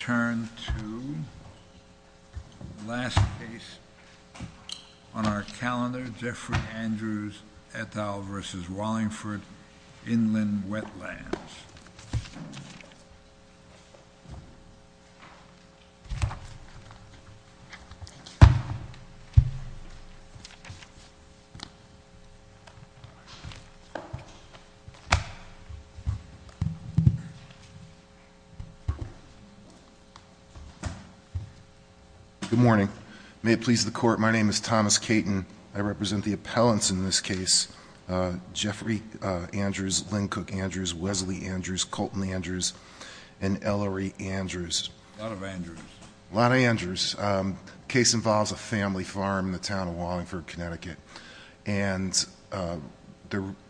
Turn to the last case on our calendar, Jeffrey Andrews et al. v. Wallingford, Inland Wetlands. Good morning. May it please the court, my name is Thomas Caton. I represent the appellants in this case. Jeffrey Andrews, Lynn Cook Andrews, Wesley Andrews, Colton Andrews, and Ellery Andrews. A lot of Andrews. A lot of Andrews. The case involves a family farm in the town of Wallingford, Connecticut. And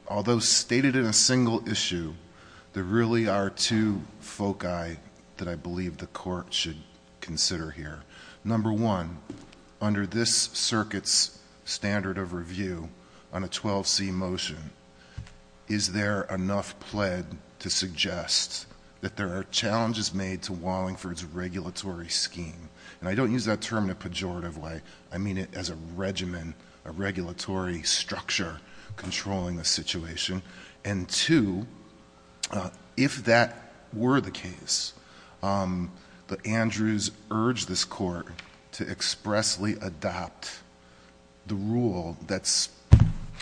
although stated in a single issue, there really are two foci that I believe the court should consider here. Number one, under this circuit's standard of review on a 12C motion, is there enough pled to suggest that there are challenges made to Wallingford's regulatory scheme? And I don't use that term in a pejorative way. I mean it as a regimen, a regulatory structure controlling the situation. And two, if that were the case, that Andrews urge this court to expressly adopt the rule that's,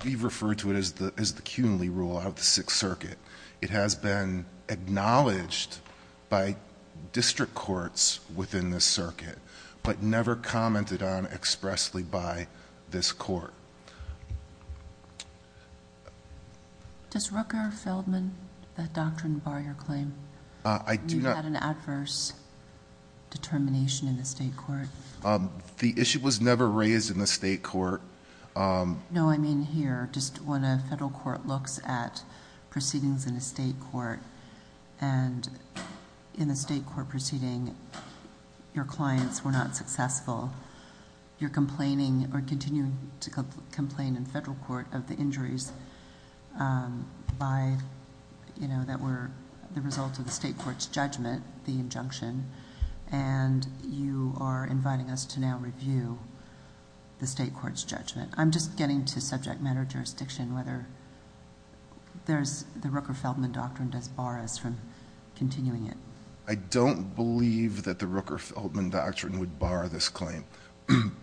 we refer to it as the CUNY rule of the Sixth Circuit. It has been acknowledged by district courts within this circuit, but never commented on expressly by this court. Does Rooker-Feldman, that doctrine bar your claim? I do not- You had an adverse determination in the state court. The issue was never raised in the state court. No, I mean here, just when a federal court looks at proceedings in a state court. And in a state court proceeding, your clients were not successful. You're complaining or continuing to complain in federal court of the injuries that were the result of the state court's judgment, the injunction. And you are inviting us to now review the state court's judgment. I'm just getting to subject matter jurisdiction, whether the Rooker-Feldman doctrine does bar us from continuing it. I don't believe that the Rooker-Feldman doctrine would bar this claim.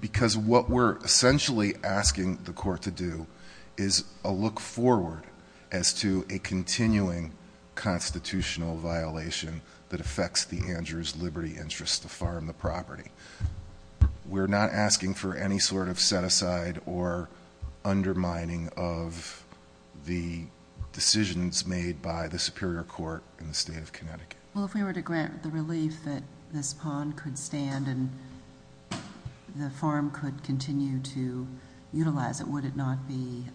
Because what we're essentially asking the court to do is a look forward as to a continuing constitutional violation that affects the Andrews liberty interest to farm the property. We're not asking for any sort of set aside or undermining of the decisions made by the superior court in the state of Connecticut. Well, if we were to grant the relief that this pond could stand and the farm could continue to utilize it, would it not be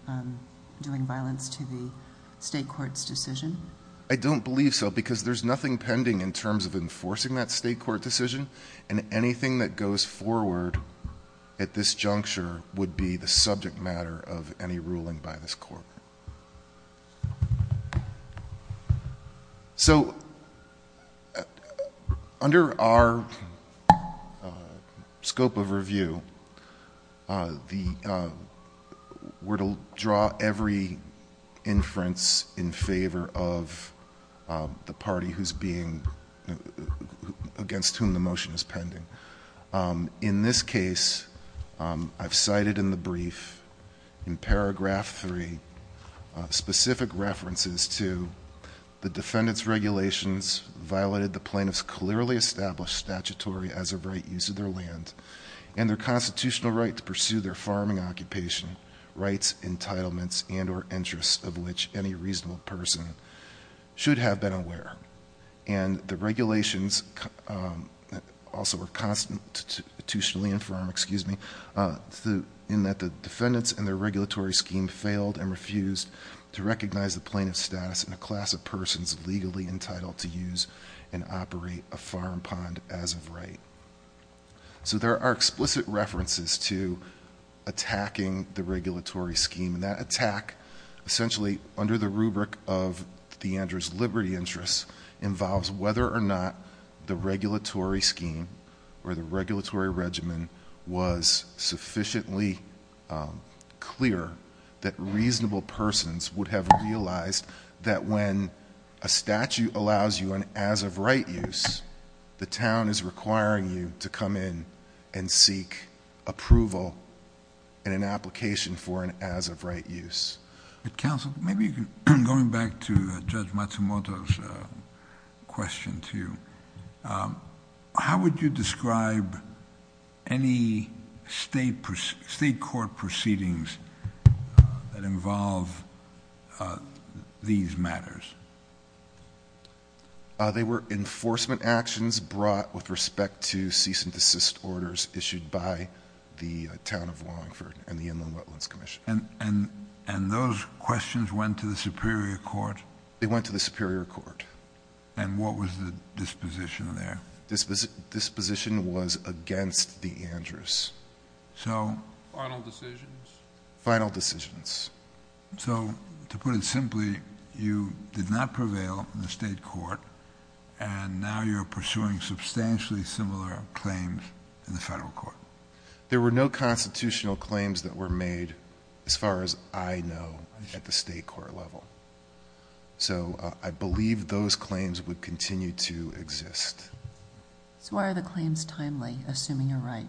doing violence to the state court's decision? I don't believe so because there's nothing pending in terms of enforcing that state court decision. And anything that goes forward at this juncture would be the subject matter of any ruling by this court. So under our scope of review, we're to draw every inference in favor of the party against whom the motion is pending. In this case, I've cited in the brief, in paragraph three, specific references to the defendant's regulations violated the plaintiff's clearly established statutory as a right use of their land. And their constitutional right to pursue their farming occupation, rights, entitlements, and or interests of which any reasonable person should have been aware. And the regulations also were constitutionally informed, excuse me, in that the defendants and their regulatory scheme failed and refused to recognize the plaintiff's status in a class of persons legally entitled to use and operate a farm pond as of right. So there are explicit references to attacking the regulatory scheme. And that attack, essentially under the rubric of the Andrews Liberty Interest, involves whether or not the regulatory scheme or the regulatory regimen was sufficiently clear that reasonable persons would have realized that when a statute allows you an as of right use, the town is requiring you to come in and seek approval in an application for an as of right use. Counsel, maybe going back to Judge Matsumoto's question to you, how would you describe any state court proceedings that involve these matters? They were enforcement actions brought with respect to cease and desist orders issued by the Town of Longford and the Inland Wetlands Commission. And those questions went to the Superior Court? They went to the Superior Court. And what was the disposition there? Disposition was against the Andrews. So... Final decisions? Final decisions. So, to put it simply, you did not prevail in the state court, and now you're pursuing substantially similar claims in the federal court. There were no constitutional claims that were made, as far as I know, at the state court level. So I believe those claims would continue to exist. So why are the claims timely, assuming you're right?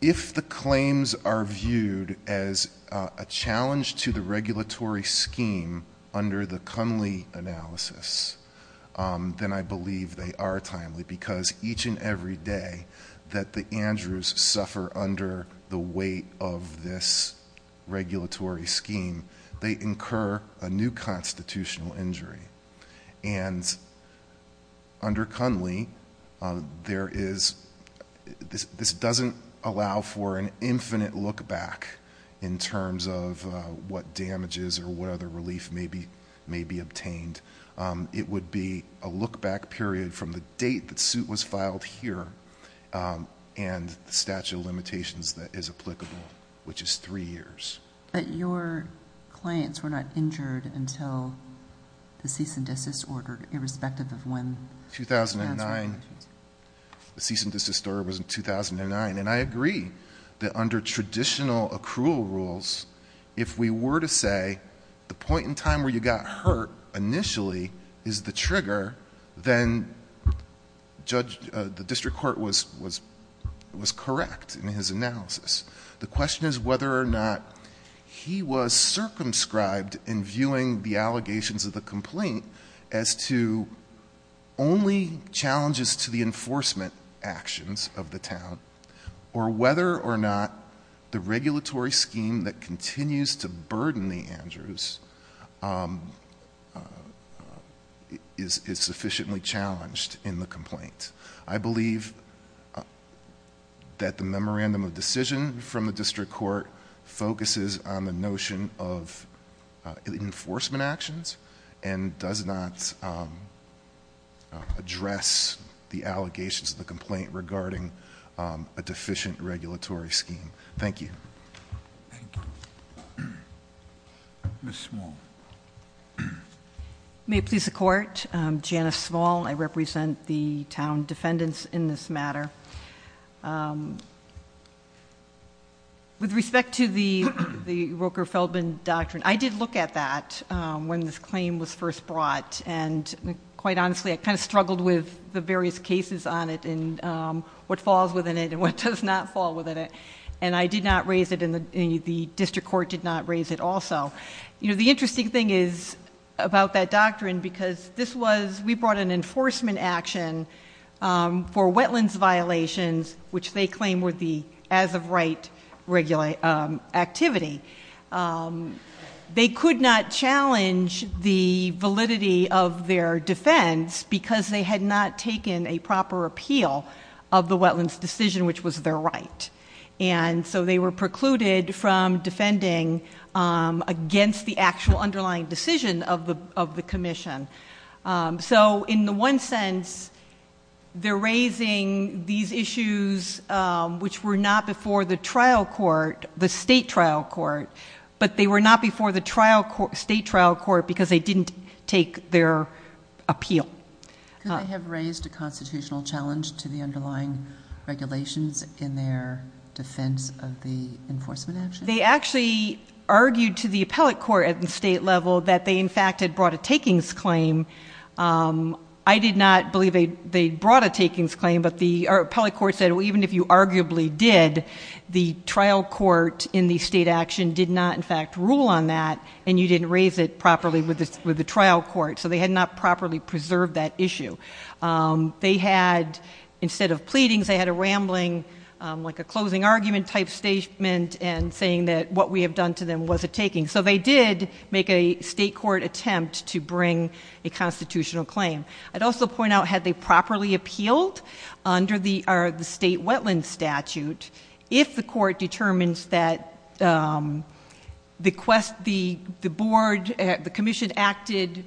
If the claims are viewed as a challenge to the regulatory scheme under the Cunley analysis, then I believe they are timely because each and every day that the Andrews suffer under the weight of this regulatory scheme, they incur a new constitutional injury. And under Cunley, there is this doesn't allow for an infinite look back in terms of what damages or what other relief may be obtained. It would be a look back period from the date the suit was filed here and the statute of limitations that is applicable, which is three years. But your clients were not injured until the cease and desist order, irrespective of when... 2009. The cease and desist order was in 2009, and I agree that under traditional accrual rules, if we were to say the point in time where you got hurt initially is the trigger, then the district court was correct in his analysis. The question is whether or not he was circumscribed in viewing the allegations of the complaint as to only challenges to the enforcement actions of the town, or whether or not the regulatory scheme that continues to burden the Andrews is sufficiently challenged in the complaint. I believe that the memorandum of decision from the district court focuses on the notion of enforcement actions and does not address the allegations of the complaint regarding a deficient regulatory scheme. Thank you. Thank you. May it please the Court. Janice Small, I represent the town defendants in this matter. With respect to the Roker-Feldman Doctrine, I did look at that when this claim was first brought, and quite honestly, I kind of struggled with the various cases on it and what falls within it and what does not fall within it, and I did not raise it, and the district court did not raise it also. The interesting thing is about that doctrine because we brought an enforcement action for wetlands violations, which they claim were the as-of-right activity. They could not challenge the validity of their defense because they had not taken a proper appeal of the wetlands decision, which was their right. And so they were precluded from defending against the actual underlying decision of the commission. So in the one sense, they're raising these issues which were not before the trial court, the state trial court, but they were not before the state trial court because they didn't take their appeal. Could they have raised a constitutional challenge to the underlying regulations in their defense of the enforcement action? They actually argued to the appellate court at the state level that they, in fact, had brought a takings claim. I did not believe they brought a takings claim, but the appellate court said, well, even if you arguably did, the trial court in the state action did not, in fact, rule on that, and you didn't raise it properly with the trial court. So they had not properly preserved that issue. They had, instead of pleadings, they had a rambling, like a closing argument type statement, and saying that what we have done to them was a taking. So they did make a state court attempt to bring a constitutional claim. I'd also point out, had they properly appealed under the state wetlands statute, if the court determines that the commission acted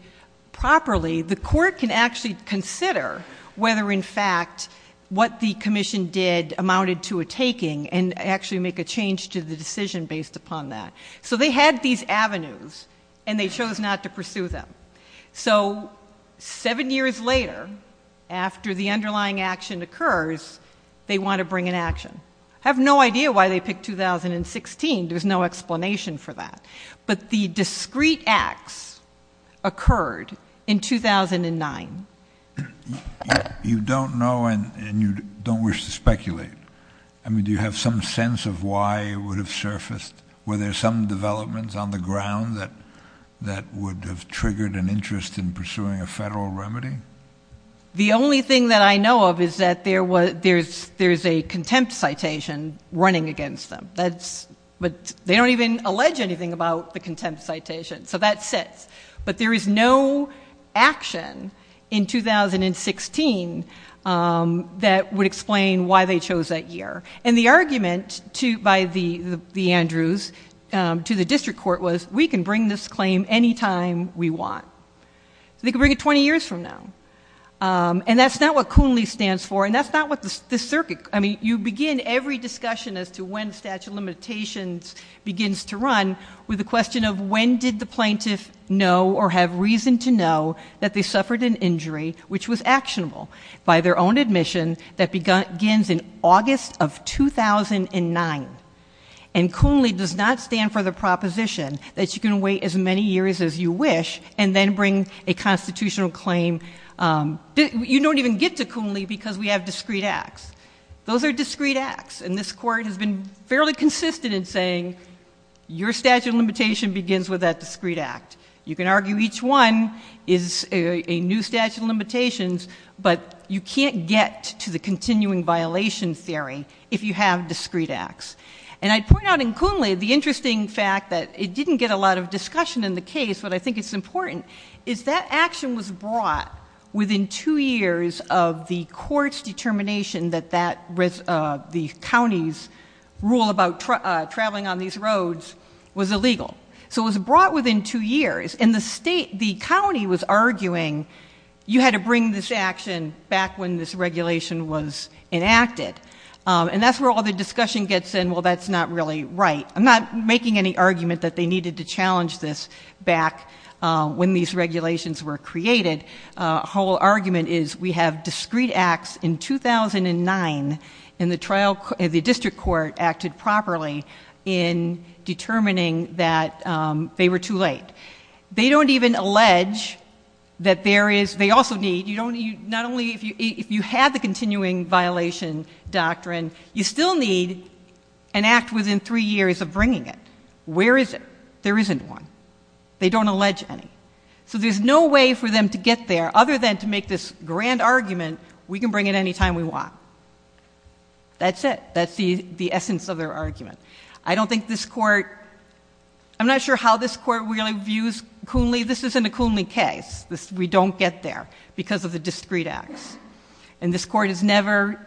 properly, the court can actually consider whether, in fact, what the commission did amounted to a taking, and actually make a change to the decision based upon that. So they had these avenues, and they chose not to pursue them. So seven years later, after the underlying action occurs, they want to bring an action. I have no idea why they picked 2016. There's no explanation for that. But the discrete acts occurred in 2009. You don't know, and you don't wish to speculate. I mean, do you have some sense of why it would have surfaced? Were there some developments on the ground that would have triggered an interest in pursuing a federal remedy? The only thing that I know of is that there's a contempt citation running against them. But they don't even allege anything about the contempt citation. So that sits. But there is no action in 2016 that would explain why they chose that year. And the argument by the Andrews to the district court was, we can bring this claim any time we want. They can bring it 20 years from now. And that's not what CUNLI stands for, and that's not what the circuit ‑‑ I mean, you begin every discussion as to when statute of limitations begins to run with the question of when did the plaintiff know or have reason to know that they suffered an injury which was actionable by their own admission that begins in August of 2009. And CUNLI does not stand for the proposition that you can wait as many years as you wish and then bring a constitutional claim. You don't even get to CUNLI because we have discrete acts. Those are discrete acts, and this Court has been fairly consistent in saying, your statute of limitation begins with that discrete act. You can argue each one is a new statute of limitations, but you can't get to the continuing violation theory if you have discrete acts. And I'd point out in CUNLI the interesting fact that it didn't get a lot of discussion in the case, but I think it's important, is that action was brought within two years of the court's determination that the county's rule about traveling on these roads was illegal. So it was brought within two years, and the state, the county was arguing, you had to bring this action back when this regulation was enacted. And that's where all the discussion gets in, well, that's not really right. I'm not making any argument that they needed to challenge this back when these regulations were created. The whole argument is we have discrete acts in 2009, and the district court acted properly in determining that they were too late. They don't even allege that there is, they also need, not only if you have the continuing violation doctrine, you still need an act within three years of bringing it. Where is it? There isn't one. They don't allege any. So there's no way for them to get there other than to make this grand argument, we can bring it any time we want. That's it. That's the essence of their argument. I don't think this court, I'm not sure how this court really views Coonley. This isn't a Coonley case. We don't get there because of the discrete acts. And this court has never,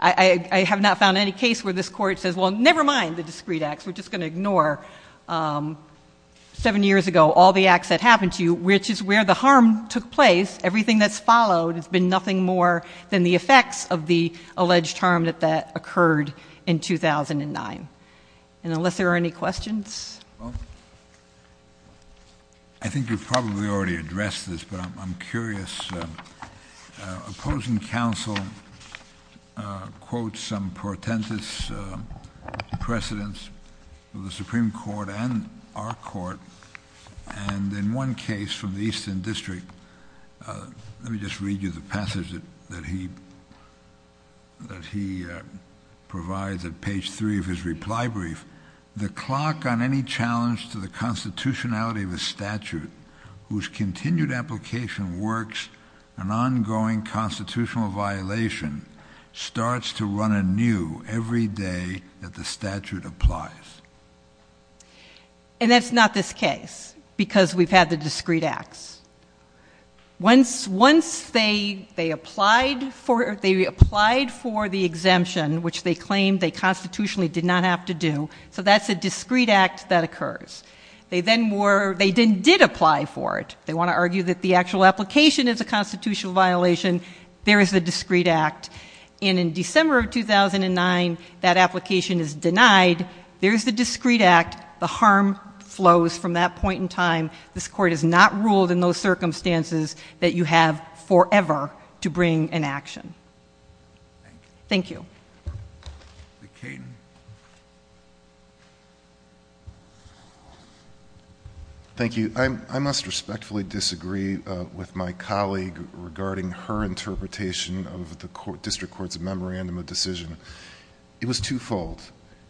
I have not found any case where this court says, well, never mind the discrete acts. We're just going to ignore seven years ago all the acts that happened to you, which is where the harm took place. Everything that's followed has been nothing more than the effects of the alleged harm that occurred in 2009. And unless there are any questions. I think you've probably already addressed this, but I'm curious. Opposing counsel quotes some pretentious precedents of the Supreme Court and our court, and in one case from the Eastern District, let me just read you the passage that he provides at page three of his reply brief. The clock on any challenge to the constitutionality of a statute whose continued application works an ongoing constitutional violation starts to run anew every day that the statute applies. And that's not this case because we've had the discrete acts. Once they applied for the exemption, which they claimed they constitutionally did not have to do, so that's a discrete act that occurs. They then did apply for it. They want to argue that the actual application is a constitutional violation. There is a discrete act. And in December of 2009, that application is denied. There is the discrete act. The harm flows from that point in time. This court has not ruled in those circumstances that you have forever to bring an action. Thank you. Ms. Caton. Thank you. I must respectfully disagree with my colleague regarding her interpretation of the district court's memorandum of decision. It was twofold.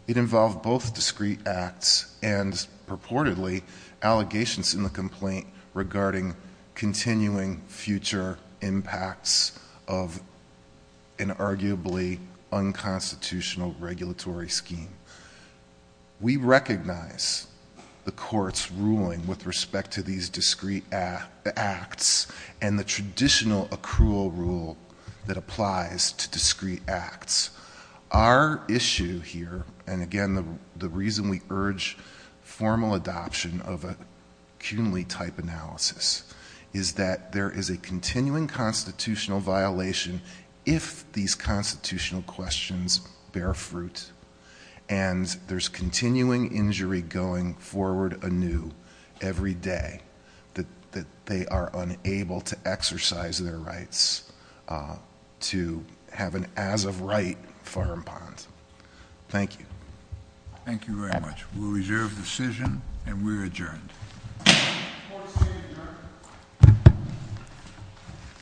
It involved both discrete acts and, purportedly, allegations in the complaint regarding continuing future impacts of an arguably unconstitutional regulatory scheme. We recognize the court's ruling with respect to these discrete acts and the traditional accrual rule that applies to discrete acts. Our issue here, and again, the reason we urge formal adoption of a CUNY-type analysis, is that there is a continuing constitutional violation if these constitutional questions bear fruit and there's continuing injury going forward anew every day, that they are unable to exercise their rights to have an as-of-right farm pond. Thank you. Thank you very much. We'll reserve the decision, and we're adjourned. Court is adjourned.